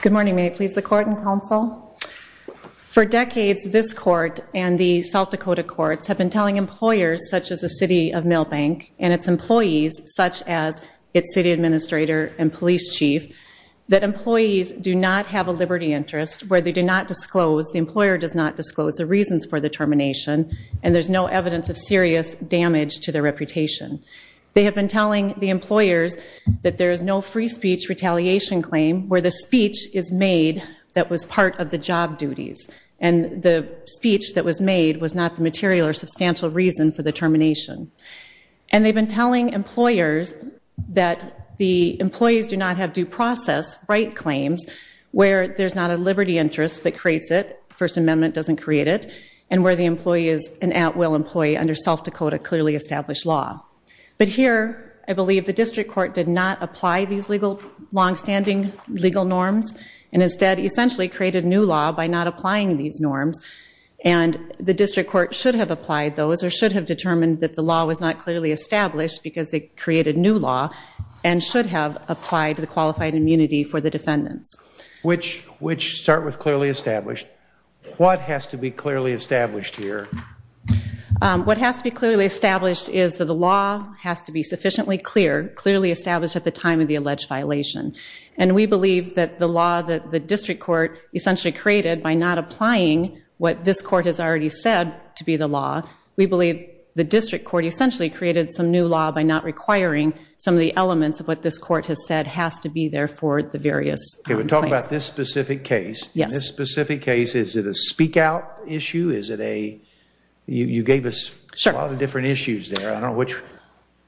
Good morning. May I please the court and counsel? For decades, this court and the South Dakota courts have been telling employers, such as the City of Milbank, and its employees, such as its city administrator and police chief, that employees do not have a liberty interest where they do not disclose, the employer does not disclose, the reasons for the termination, and there's no evidence of serious damage to their reputation. They have been telling the employers that there is no free speech retaliation claim where the speech is made that was part of the job duties, and the speech that was made was not the material or substantial reason for the termination. And they've been telling employers that the employees do not have due process right claims where there's not a liberty interest that creates it, First Amendment doesn't create it, and where the employee is an at-will employee under South Dakota clearly established law. But here, I believe the district court did not apply these legal, long-standing legal norms, and instead essentially created new law by not applying these norms, and the district court should have applied those, or should have determined that the law was not clearly established because they created new law, and should have applied the qualified immunity for the defendants. Which start with clearly established. What has to be clearly established here? What has to be clearly established is that the law has to be sufficiently clear, clearly established at the time of the alleged violation. And we believe that the law that the district court essentially created by not applying what this court has already said to be the law, we believe the district court essentially created some new law by not requiring some of the elements of what this court has said has to be there for the various claims. Okay, we're talking about this specific case. In this specific case, is it a speak-out issue? Is it a, you gave us a lot of different issues there. I don't know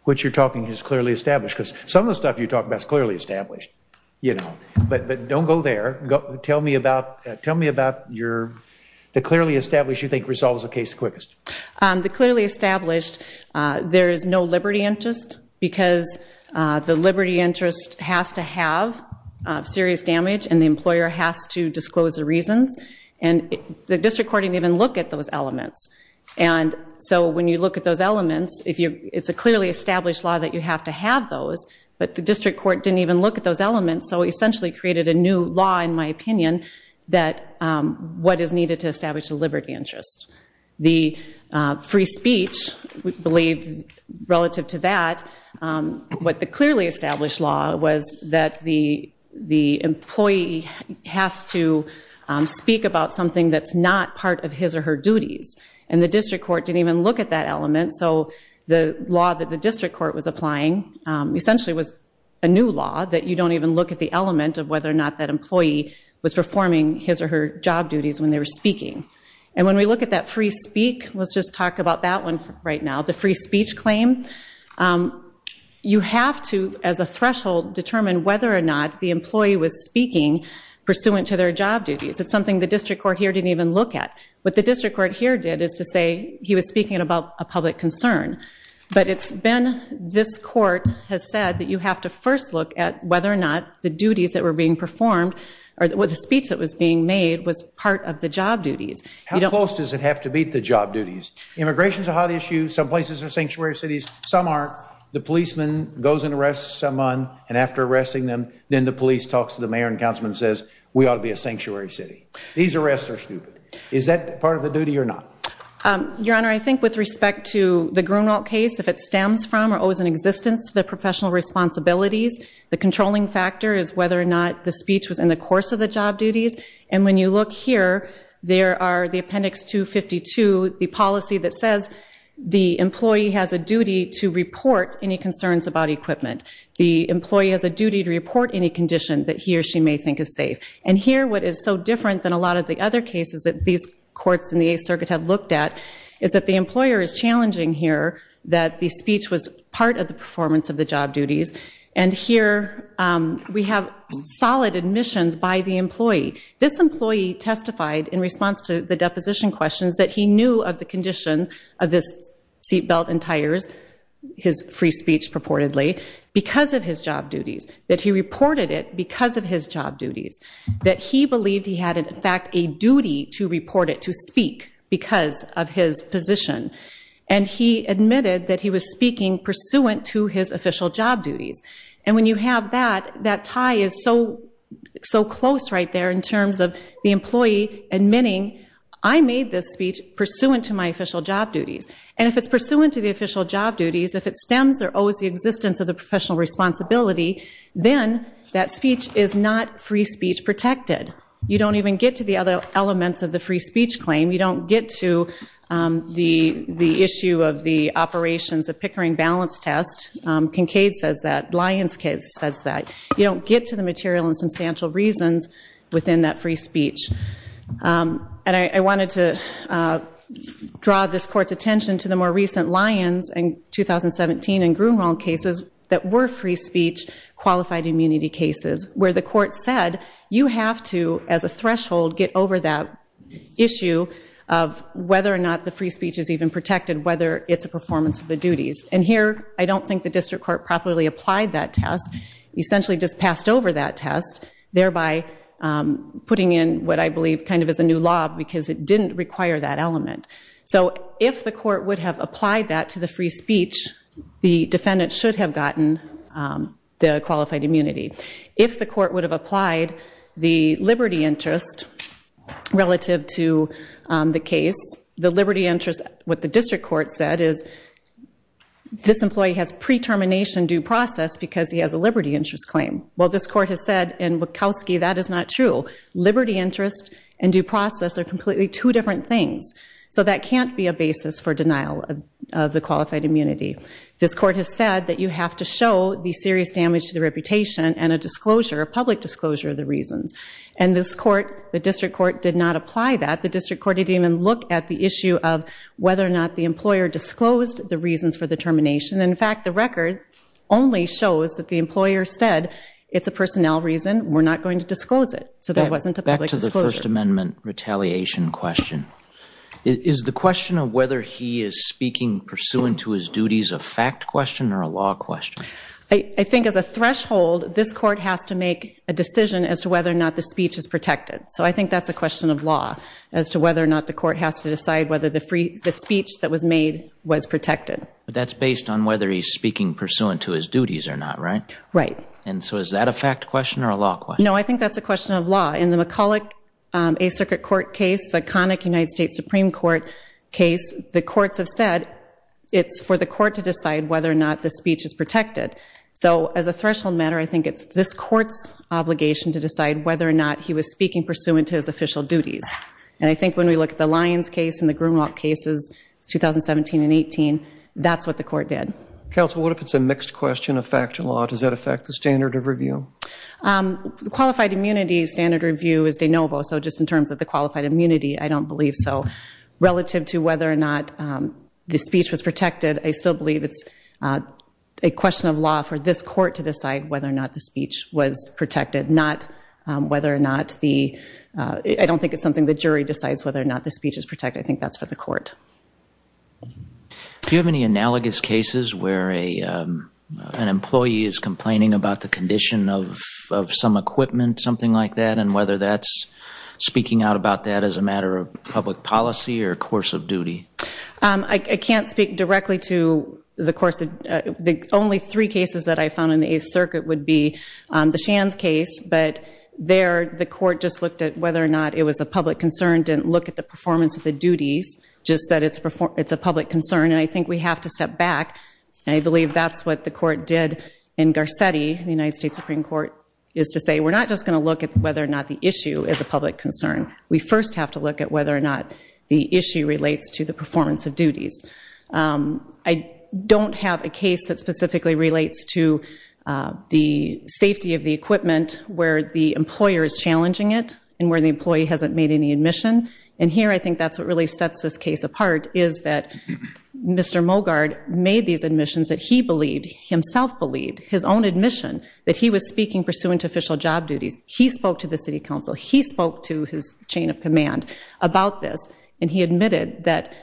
which you're talking is clearly established, because some of the stuff you talk about is clearly established, you know. But don't go there. Tell me about your, the clearly established you think resolves the case the quickest. The clearly established, there is no liberty interest, because the liberty interest has to have serious damage and the employer has to disclose the reasons. And the district court didn't even look at those elements. And so when you look at those elements, if you, it's a clearly established law that you have to have those, but the district court didn't even look at those elements. So it essentially created a new law, in my opinion, that what is needed to establish the liberty interest. The free speech, we believe relative to that, what the clearly established law was that the employee has to speak about something that's not part of his or her duties. And the district court didn't even look at that element, so the law that the district court was applying essentially was a new law that you don't even look at the element of whether or not that employee was performing his or her job duties when they were speaking. And when we look at that free speak, let's just talk about that one right now, the free speech claim, you have to, as a threshold, determine whether or not the employee was speaking pursuant to their job duties. It's something the district court here didn't even look at. What the district court here did is to say he was speaking about a public concern. But it's been, this court has said that you have to first look at whether or not the duties that were being performed or the speech that was being made was part of the job duties. How close does it have to be to the job duties? Immigration is a hot issue. Some places are sanctuary cities. Some aren't. The policeman goes and arrests someone, and after arresting them, then the police talks to the mayor and councilman and says, we ought to be a sanctuary city. These arrests are stupid. Is that part of the duty or not? Your Honor, I think with respect to the Grunwald case, if it stems from or owes an existence to the professional responsibilities, the controlling factor is whether or not the speech was in the course of the job duties. And when you look here, there are the appendix 252, the policy that says the employee has a duty to report any concerns about equipment. The employee has a duty to report any condition that he or she may think is safe. And here, what is so different than a lot of the other cases that these courts in the Eighth Circuit have looked at is that the employer is challenging here that the speech was part of the performance of the job duties. And here, we have solid admissions by the employee. This employee testified in response to the deposition questions that he knew of the condition of this seat belt and tires, his free speech purportedly, because of his job duties. That he reported it because of his job duties. That he believed he had, in fact, a duty to report it, to speak, because of his position. And he admitted that he was speaking pursuant to his official job duties. And when you have that, that tie is so close right there in terms of the employee admitting, I made this speech pursuant to my official job duties. And if it's pursuant to the official job duties, if it stems or owes the existence of the professional responsibility, then that speech is not free speech protected. You don't even get to the other elements of the free speech claim. You don't get to the issue of the operations of Pickering balance test. Kincaid says that. Lyons case says that. You don't get to the material and substantial reasons within that free speech. And I wanted to draw this court's attention to the more recent Lyons in 2017 and Grunewald cases that were free speech qualified immunity cases. Where the court said, you have to, as a threshold, get over that issue of whether or not the free speech is even protected. Whether it's a performance of the duties. And here, I don't think the district court properly applied that test. Essentially just passed over that test, thereby putting in what I believe kind of is a new law because it didn't require that element. So if the court would have applied that to the free speech, the defendant should have gotten the qualified immunity. If the court would have applied the liberty interest relative to the case, the liberty interest, what the district court said is, this employee has pre-termination due process because he has a liberty interest claim. Well, this court has said in Wachowski, that is not true. Liberty interest and due process are completely two different things. So that can't be a basis for denial of the qualified immunity. This court has said that you have to show the serious damage to the reputation and a disclosure, a public disclosure of the reasons. And this court, the district court, did not apply that. The district court didn't even look at the issue of whether or not the employer disclosed the reasons for the termination. In fact, the record only shows that the employer said, it's a personnel reason. We're not going to disclose it. So there wasn't a public disclosure. Back to the First Amendment retaliation question. Is the question of whether he is speaking pursuant to his duties a fact question or a law question? I think as a threshold, this court has to make a decision as to whether or not the speech is protected. So I think that's a question of law as to whether or not the court has to decide whether the speech that was made was protected. But that's based on whether he's speaking pursuant to his duties or not, right? Right. And so is that a fact question or a law question? No, I think that's a question of law. In the McCulloch A Circuit Court case, the conic United States Supreme Court case, the courts have said it's for the court to decide whether or not the speech is protected. So as a threshold matter, I think it's this court's obligation to decide whether or not he was speaking pursuant to his official duties. And I think when we look at the Lyons case and the Grimlock cases, 2017 and 18, that's what the court did. Counsel, what if it's a mixed question of fact or law? Does that affect the standard of review? Qualified immunity standard review is de novo. So just in terms of the qualified immunity, I don't believe so. Relative to whether or not the speech was protected, I still believe it's a question of law for this court to decide whether or not the speech was protected, not whether or not the ‑‑ I don't think it's something the jury decides whether or not the speech is protected. I think that's for the court. Do you have any analogous cases where an employee is complaining about the condition of some equipment, something like that, and whether that's speaking out about that as a matter of public policy or course of duty? I can't speak directly to the course of ‑‑ the only three cases that I found in the Eighth Circuit would be the Shands case, but there the court just looked at whether or not it was a public concern, didn't look at the performance of the duties, just said it's a public concern, and I think we have to step back, and I believe that's what the court did in Garcetti, the United States Supreme Court, is to say we're not just going to look at whether or not the issue is a public concern. We first have to look at whether or not the issue relates to the performance of duties. I don't have a case that specifically relates to the safety of the equipment where the employer is challenging it and where the employee hasn't made any admission, and here I think that's what really sets this case apart is that Mr. Mogard made these admissions that he believed, himself believed, his own admission that he was speaking pursuant to official job duties. He spoke to the City Council. He spoke to his chain of command about this, and he admitted that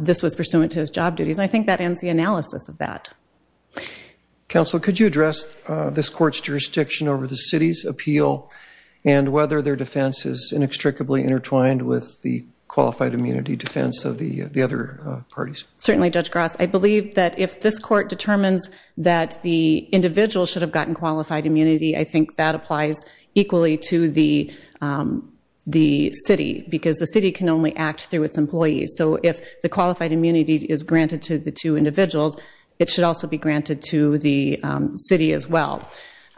this was pursuant to his job duties, and I think that ends the analysis of that. Counsel, could you address this court's jurisdiction over the city's appeal and whether their defense is inextricably intertwined with the qualified immunity defense of the other parties? Certainly, Judge Gross. I believe that if this court determines that the individual should have gotten qualified immunity, I think that applies equally to the city because the city can only act through its employees, so if the qualified immunity is granted to the two individuals, it should also be granted to the city as well,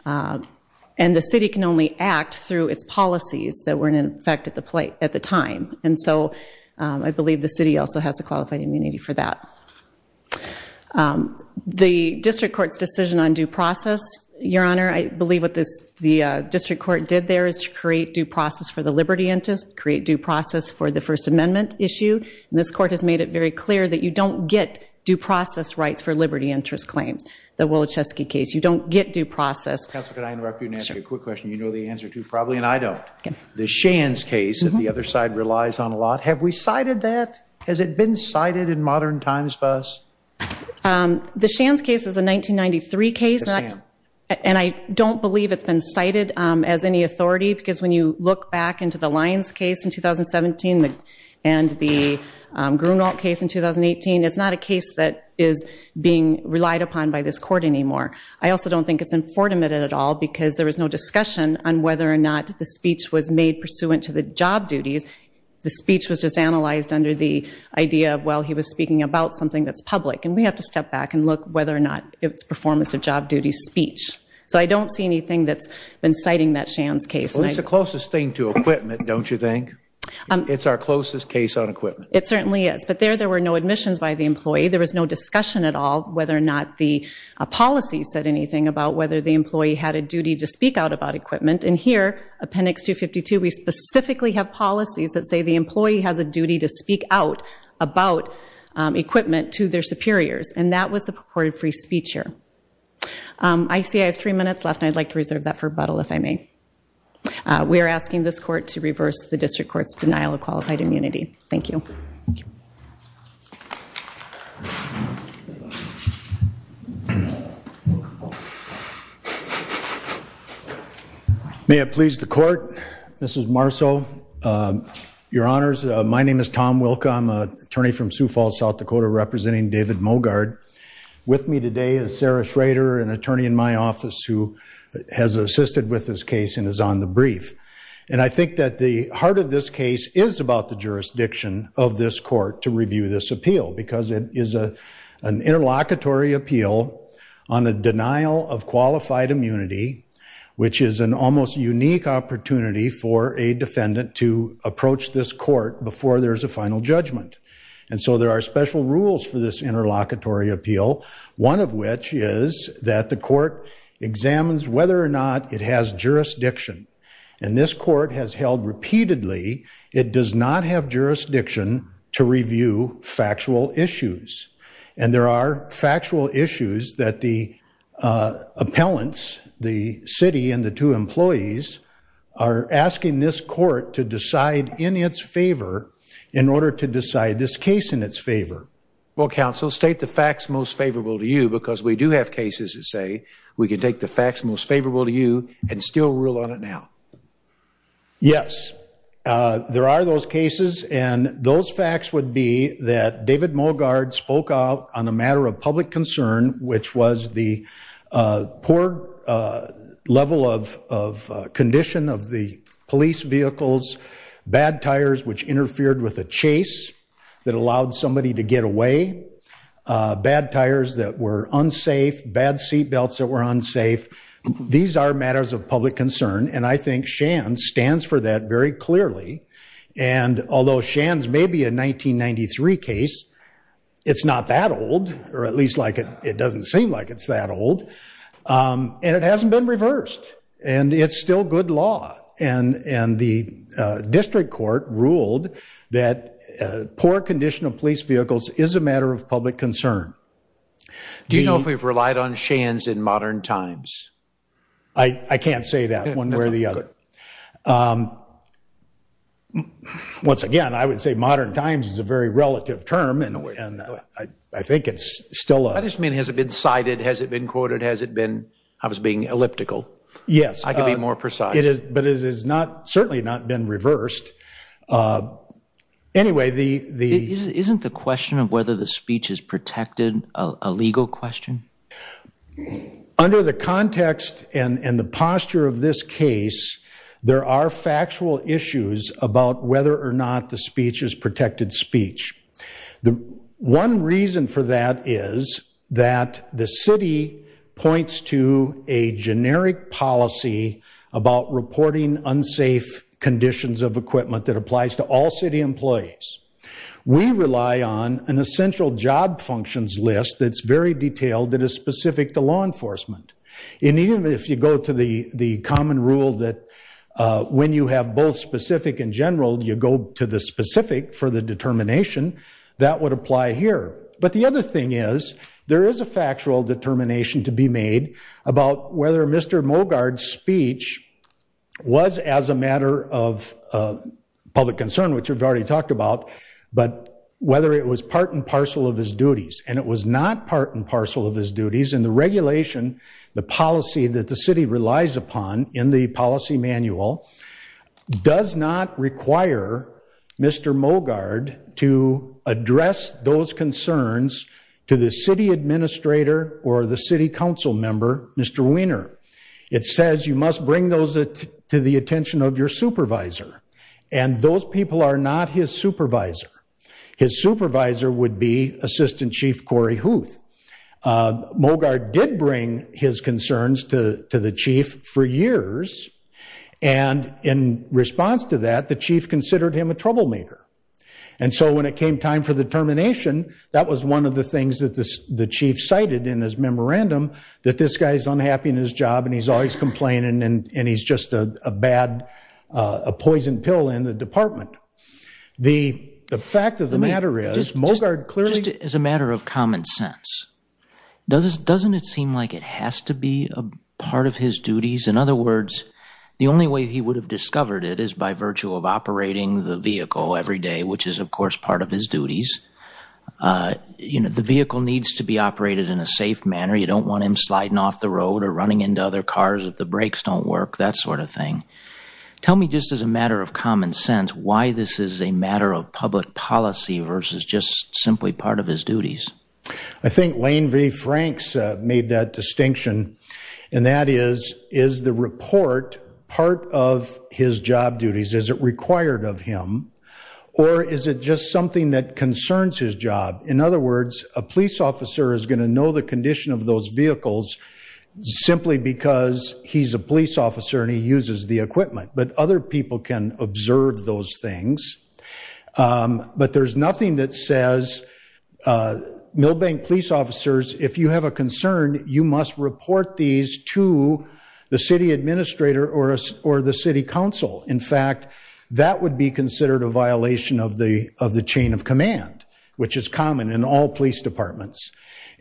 and the city can only act through its policies that were in effect at the time, and so I believe the city also has a qualified immunity for that. The district court's decision on due process, Your Honor, I believe what the district court did there is to create due process for the liberty interest, create due process for the First Amendment issue, and this court has made it very clear that you don't get due process rights for liberty interest claims. The Woloszewski case, you don't get due process. Counsel, could I interrupt you and ask you a quick question? You know the answer to probably, and I don't. The Shands case that the other side relies on a lot, have we cited that? Has it been cited in modern times for us? The Shands case is a 1993 case, and I don't believe it's been cited as any authority because when you look back into the Lyons case in 2017 and the Grunewald case in 2018, it's not a case that is being relied upon by this court anymore. I also don't think it's infortimate at all because there was no discussion on whether or not the speech was made pursuant to the job duties. The speech was just analyzed under the idea of, well, he was speaking about something that's public, and we have to step back and look whether or not it's performance of job duty speech. So I don't see anything that's been citing that Shands case. Well, it's the closest thing to equipment, don't you think? It's our closest case on equipment. It certainly is, but there there were no admissions by the employee. There was no discussion at all whether or not the policy said anything about whether the employee had a duty to speak out about equipment. And here, Appendix 252, we specifically have policies that say the employee has a duty to speak out about equipment to their superiors, and that was the purported free speech here. I see I have three minutes left, and I'd like to reserve that for Buttle, if I may. We are asking this court to reverse the district court's denial of qualified immunity. Thank you. May it please the court. This is Marceau. Your Honors, my name is Tom Wilka. I'm an attorney from Sioux Falls, South Dakota, representing David Mogard. With me today is Sarah Schrader, an attorney in my office who has assisted with this case and is on the brief. And I think that the heart of this case is about the jurisdiction of this court to review this appeal because it is an interlocutory appeal on the denial of qualified immunity, which is an almost unique opportunity for a defendant to approach this court before there's a final judgment. And so there are special rules for this interlocutory appeal, one of which is that the court examines whether or not it has jurisdiction. And this court has held repeatedly it does not have jurisdiction to review factual issues. And there are factual issues that the appellants, the city and the two employees, are asking this court to decide in its favor in order to decide this case in its favor. Well, counsel, state the facts most favorable to you because we do have cases that say we can take the facts most favorable to you and still rule on it now. Yes, there are those cases. And those facts would be that David Mogard spoke out on a matter of public concern, which was the poor level of condition of the police vehicles, bad tires which interfered with a chase that allowed somebody to get away, bad tires that were unsafe, bad seatbelts that were unsafe. These are matters of public concern, and I think Shands stands for that very clearly. And although Shands may be a 1993 case, it's not that old, or at least it doesn't seem like it's that old. And it hasn't been reversed, and it's still good law. And the district court ruled that poor condition of police vehicles is a matter of public concern. Do you know if we've relied on Shands in modern times? I can't say that one way or the other. Once again, I would say modern times is a very relative term, and I think it's still a— I just mean has it been cited, has it been quoted, has it been—I was being elliptical. Yes. I can be more precise. But it has certainly not been reversed. Anyway, the— Isn't the question of whether the speech is protected a legal question? Under the context and the posture of this case, there are factual issues about whether or not the speech is protected speech. One reason for that is that the city points to a generic policy about reporting unsafe conditions of equipment that applies to all city employees. We rely on an essential job functions list that's very detailed that is specific to law enforcement. And even if you go to the common rule that when you have both specific and general, you go to the specific for the determination, that would apply here. But the other thing is, there is a factual determination to be made about whether Mr. Mogard's speech was as a matter of public concern, which we've already talked about, but whether it was part and parcel of his duties. And it was not part and parcel of his duties. And the regulation, the policy that the city relies upon in the policy manual, does not require Mr. Mogard to address those concerns to the city administrator or the city council member, Mr. Wiener. It says you must bring those to the attention of your supervisor. And those people are not his supervisor. His supervisor would be Assistant Chief Cory Huth. Mogard did bring his concerns to the chief for years. And in response to that, the chief considered him a troublemaker. And so when it came time for the termination, that was one of the things that the chief cited in his memorandum, that this guy's unhappy in his job and he's always complaining and he's just a bad, a poison pill in the department. The fact of the matter is, Mogard clearly- Doesn't it seem like it has to be a part of his duties? In other words, the only way he would have discovered it is by virtue of operating the vehicle every day, which is, of course, part of his duties. You know, the vehicle needs to be operated in a safe manner. You don't want him sliding off the road or running into other cars if the brakes don't work, that sort of thing. Tell me, just as a matter of common sense, why this is a matter of public policy versus just simply part of his duties. I think Lane V. Franks made that distinction, and that is, is the report part of his job duties? Is it required of him? Or is it just something that concerns his job? In other words, a police officer is going to know the condition of those vehicles simply because he's a police officer and he uses the equipment. But other people can observe those things. But there's nothing that says, Milbank police officers, if you have a concern, you must report these to the city administrator or the city council. In fact, that would be considered a violation of the chain of command, which is common in all police departments.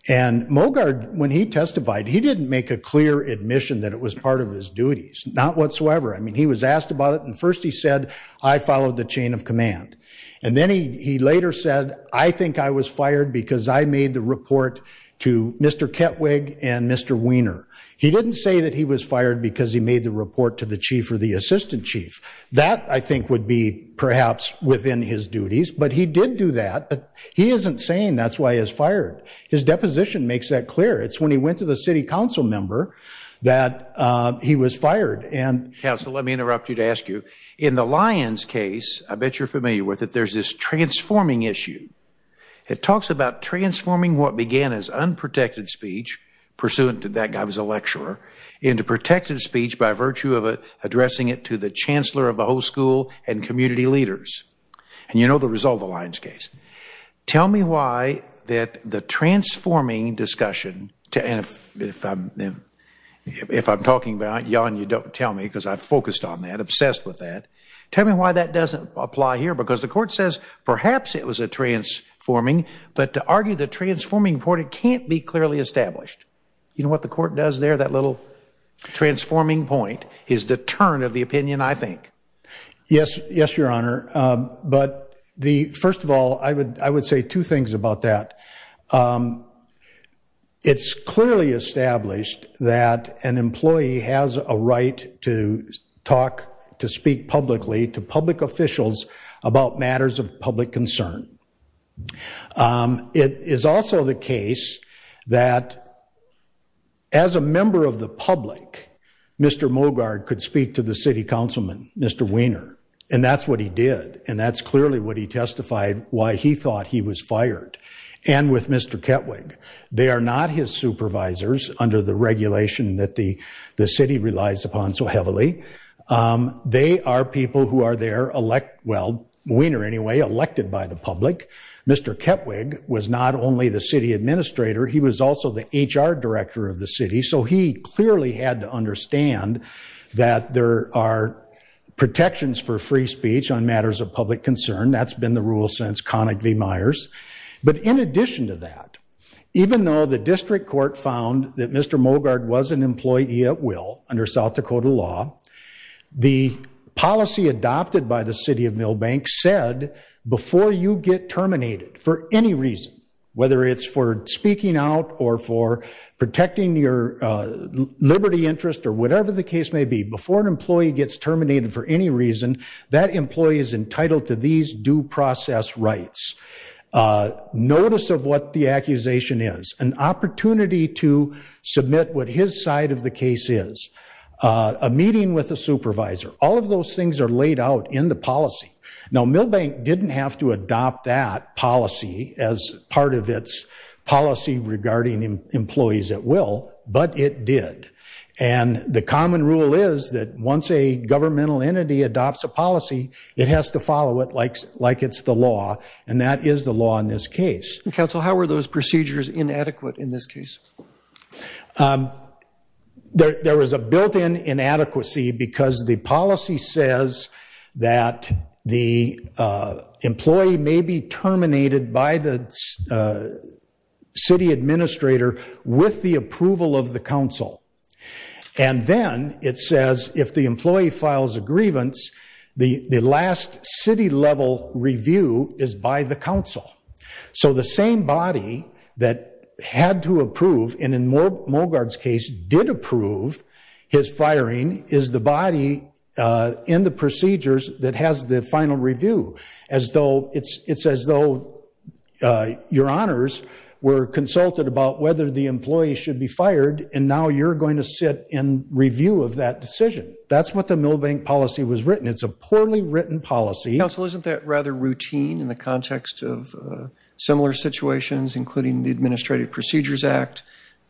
And Mogard, when he testified, he didn't make a clear admission that it was part of his duties, not whatsoever. I mean, he was asked about it, and first he said, I followed the chain of command. And then he later said, I think I was fired because I made the report to Mr. Kettwig and Mr. Weiner. He didn't say that he was fired because he made the report to the chief or the assistant chief. That, I think, would be perhaps within his duties. But he did do that. He isn't saying that's why he was fired. His deposition makes that clear. It's when he went to the city council member that he was fired. And, counsel, let me interrupt you to ask you, in the Lyons case, I bet you're familiar with it, there's this transforming issue. It talks about transforming what began as unprotected speech, pursuant to that guy was a lecturer, into protected speech by virtue of addressing it to the chancellor of the whole school and community leaders. And you know the result of the Lyons case. Tell me why that the transforming discussion, and if I'm talking about it, Jan, you don't tell me, because I've focused on that, obsessed with that. Tell me why that doesn't apply here, because the court says perhaps it was a transforming, but to argue the transforming report, it can't be clearly established. You know what the court does there, that little transforming point is the turn of the opinion, I think. Yes, your honor. But, first of all, I would say two things about that. It's clearly established that an employee has a right to talk, to speak publicly to public officials about matters of public concern. It is also the case that as a member of the public, Mr. Mogard could speak to the city councilman, Mr. Wiener, and that's what he did. And that's clearly what he testified, why he thought he was fired. And with Mr. Kettwig. They are not his supervisors, under the regulation that the city relies upon so heavily. They are people who are there elect, well, Wiener anyway, elected by the public. Mr. Kettwig was not only the city administrator, he was also the HR director of the city, so he clearly had to understand that there are protections for free speech on matters of public concern. That's been the rule since Connick v. Myers. But in addition to that, even though the district court found that Mr. Mogard was an employee at will, under South Dakota law, the policy adopted by the city of Milbank said, before you get terminated for any reason, whether it's for speaking out or for protecting your liberty interest, or whatever the case may be, before an employee gets terminated for any reason, that employee is entitled to these due process rights. Notice of what the accusation is. An opportunity to submit what his side of the case is. A meeting with a supervisor. All of those things are laid out in the policy. Now, Milbank didn't have to adopt that policy as part of its policy regarding employees at will, but it did. And the common rule is that once a governmental entity adopts a policy, it has to follow it like it's the law, and that is the law in this case. Counsel, how were those procedures inadequate in this case? There was a built-in inadequacy because the policy says that the employee may be terminated by the city administrator with the approval of the council. And then it says if the employee files a grievance, the last city-level review is by the council. So the same body that had to approve, and in Mogard's case did approve his firing, is the body in the procedures that has the final review. It's as though your honors were consulted about whether the employee should be fired, and now you're going to sit in review of that decision. That's what the Milbank policy was written. It's a poorly written policy. Counsel, isn't that rather routine in the context of similar situations, including the Administrative Procedures Act,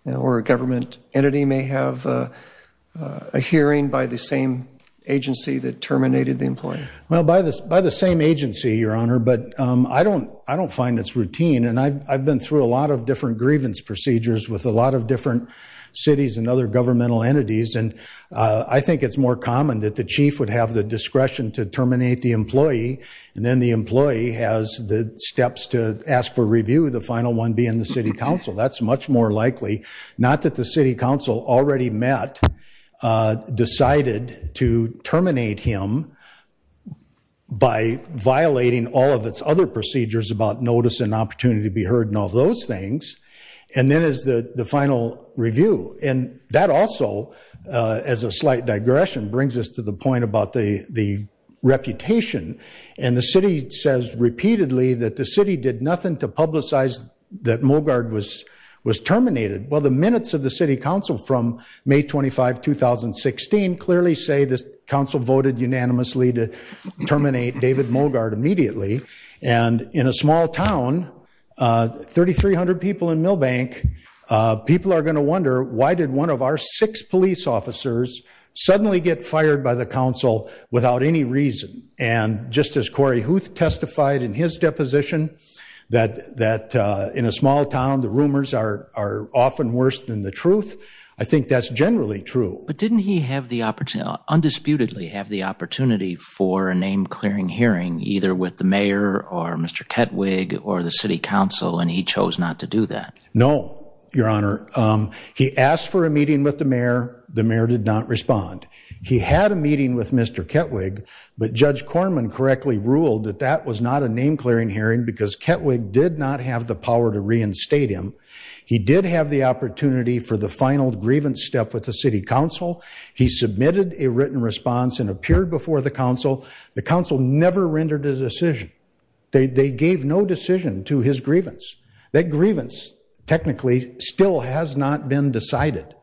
where a government entity may have a hearing by the same agency that terminated the employee? Well, by the same agency, Your Honor, but I don't find this routine, and I've been through a lot of different grievance procedures with a lot of different cities and other governmental entities, and I think it's more common that the chief would have the discretion to terminate the employee, and then the employee has the steps to ask for review, the final one being the city council. That's much more likely, not that the city council already met, decided to terminate him by violating all of its other procedures about notice and opportunity to be heard and all those things, and then is the final review. And that also, as a slight digression, brings us to the point about the reputation, and the city says repeatedly that the city did nothing to publicize that Mulgaard was terminated. Well, the minutes of the city council from May 25, 2016, clearly say the council voted unanimously to terminate David Mulgaard immediately, and in a small town, 3,300 people in Milbank, people are going to wonder, why did one of our six police officers suddenly get fired by the council without any reason? And just as Corey Huth testified in his deposition that in a small town, the rumors are often worse than the truth, I think that's generally true. But didn't he have the opportunity, undisputedly have the opportunity for a name-clearing hearing, either with the mayor or Mr. Ketwig or the city council, and he chose not to do that? No, Your Honor. He asked for a meeting with the mayor. The mayor did not respond. He had a meeting with Mr. Ketwig, but Judge Corman correctly ruled that that was not a name-clearing hearing because Ketwig did not have the power to reinstate him. He did have the opportunity for the final grievance step with the city council. He submitted a written response and appeared before the council. The council never rendered a decision. They gave no decision to his grievance. That grievance, technically, still has not been decided.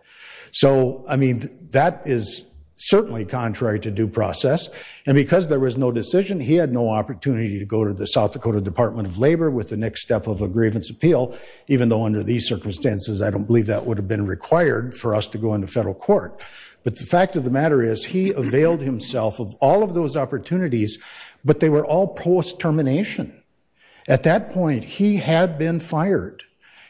So, I mean, that is certainly contrary to due process. And because there was no decision, he had no opportunity to go to the South Dakota Department of Labor with the next step of a grievance appeal, even though under these circumstances, I don't believe that would have been required for us to go into federal court. But the fact of the matter is, he availed himself of all of those opportunities, but they were all post-termination. At that point, he had been fired.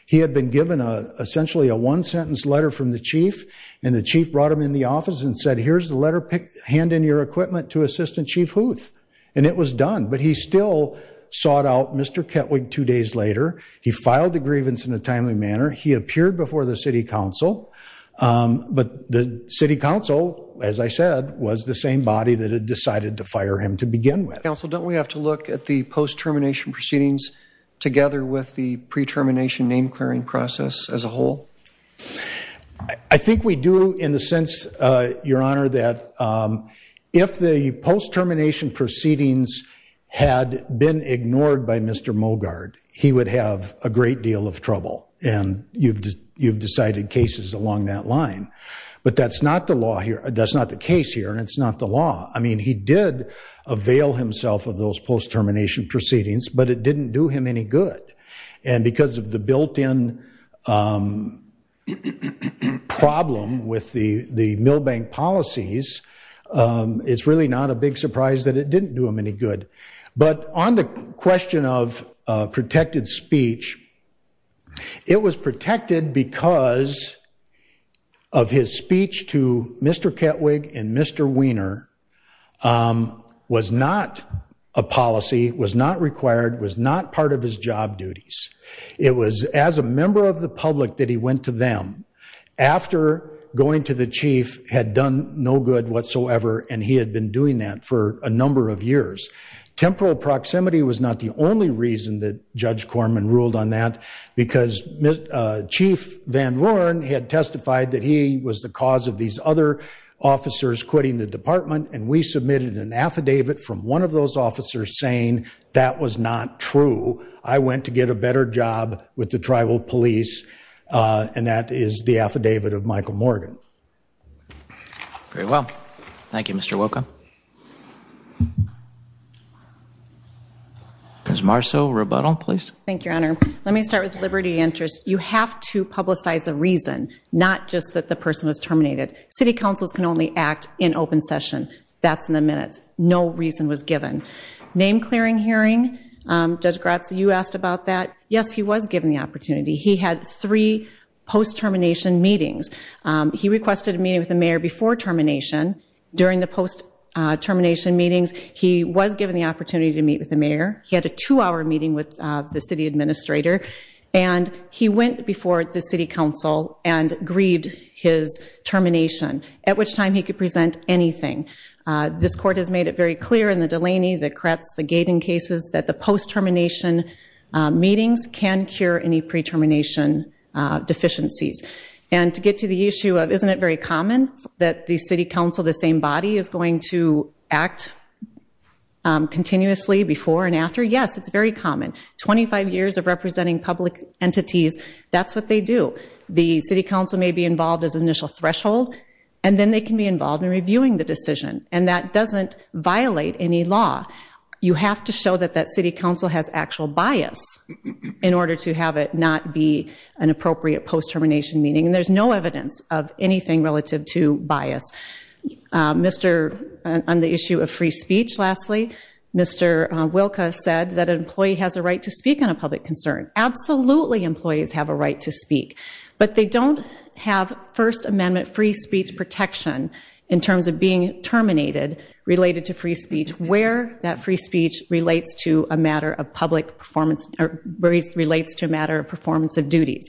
He had been given, essentially, a one-sentence letter from the chief, and the chief brought him into the office and said, here's the letter. Hand in your equipment to Assistant Chief Huth. And it was done, but he still sought out Mr. Ketwig two days later. He filed the grievance in a timely manner. He appeared before the city council. But the city council, as I said, was the same body that had decided to fire him to begin with. Counsel, don't we have to look at the post-termination proceedings together with the pre-termination name-clearing process as a whole? I think we do in the sense, Your Honor, that if the post-termination proceedings had been ignored by Mr. Mogard, he would have a great deal of trouble. And you've decided cases along that line. But that's not the case here, and it's not the law. I mean, he did avail himself of those post-termination proceedings, but it didn't do him any good. And because of the built-in problem with the Milbank policies, it's really not a big surprise that it didn't do him any good. But on the question of protected speech, it was protected because of his speech to Mr. Ketwig and Mr. Weiner was not a policy, was not required, was not part of his job duties. It was as a member of the public that he went to them after going to the chief had done no good whatsoever, and he had been doing that for a number of years. Temporal proximity was not the only reason that Judge Corman ruled on that, because Chief Van Voren had testified that he was the cause of these other officers quitting the department, and we submitted an affidavit from one of those officers saying that was not true. I went to get a better job with the tribal police, and that is the affidavit of Michael Morgan. Very well. Thank you, Mr. Wilco. Ms. Marceau, rebuttal, please. Thank you, Your Honor. Let me start with liberty of interest. You have to publicize a reason, not just that the person was terminated. City councils can only act in open session. That's in a minute. No reason was given. Name-clearing hearing, Judge Grazza, you asked about that. Yes, he was given the opportunity. He had three post-termination meetings. He requested a meeting with the mayor before termination. During the post-termination meetings, he was given the opportunity to meet with the mayor. He had a two-hour meeting with the city administrator, and he went before the city council and agreed his termination, at which time he could present anything. This court has made it very clear in the Delaney, the Kretz, the Gaten cases, that the post-termination meetings can cure any pre-termination deficiencies. And to get to the issue of isn't it very common that the city council, the same body, is going to act continuously before and after? Yes, it's very common. Twenty-five years of representing public entities, that's what they do. The city council may be involved as an initial threshold, and then they can be involved in reviewing the decision, and that doesn't violate any law. You have to show that that city council has actual bias in order to have it not be an appropriate post-termination meeting, and there's no evidence of anything relative to bias. On the issue of free speech, lastly, Mr. Wilka said that an employee has a right to speak on a public concern. Absolutely employees have a right to speak, but they don't have First Amendment free speech protection in terms of being terminated related to free speech where that free speech relates to a matter of performance of duties.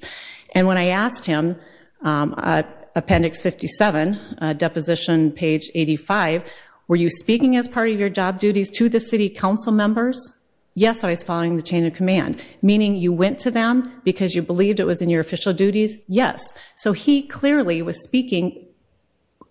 And when I asked him, appendix 57, deposition page 85, were you speaking as part of your job duties to the city council members? Yes, I was following the chain of command. Meaning you went to them because you believed it was in your official duties? Yes. So he clearly was speaking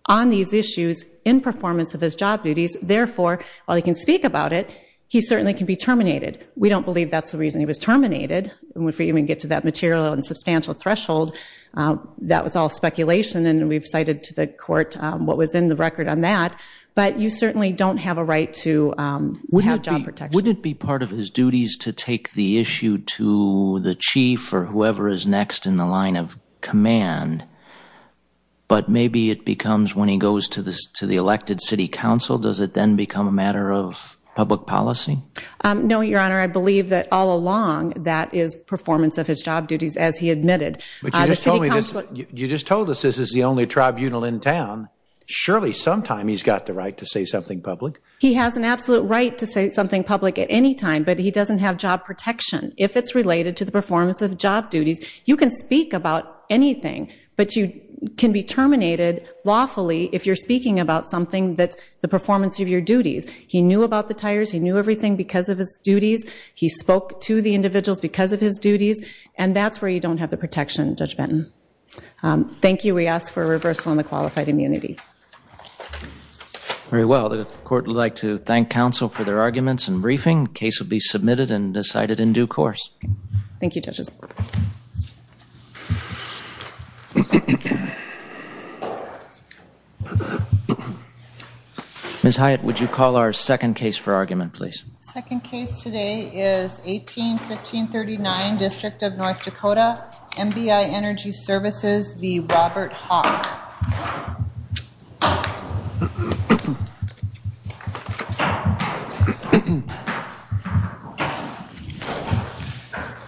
on these issues in performance of his job duties, therefore, while he can speak about it, he certainly can be terminated. We don't believe that's the reason he was terminated. If we even get to that material and substantial threshold, that was all speculation, and we've cited to the court what was in the record on that. But you certainly don't have a right to have job protection. Wouldn't it be part of his duties to take the issue to the chief or whoever is next in the line of command, but maybe it becomes when he goes to the elected city council, does it then become a matter of public policy? No, Your Honor. I believe that all along that is performance of his job duties as he admitted. But you just told us this is the only tribunal in town. Surely sometime he's got the right to say something public. He has an absolute right to say something public at any time, but he doesn't have job protection. If it's related to the performance of job duties, you can speak about anything, but you can be terminated lawfully if you're speaking about something that's the performance of your duties. He knew about the tires. He knew everything because of his duties. He spoke to the individuals because of his duties, and that's where you don't have the protection, Judge Benton. Thank you. We ask for a reversal on the qualified immunity. Very well. The court would like to thank counsel for their arguments and briefing. The case will be submitted and decided in due course. Thank you, judges. Ms. Hyatt, would you call our second case for argument, please? The second case today is 18-1539, District of North Dakota, MBI Energy Services v. Robert Hawk.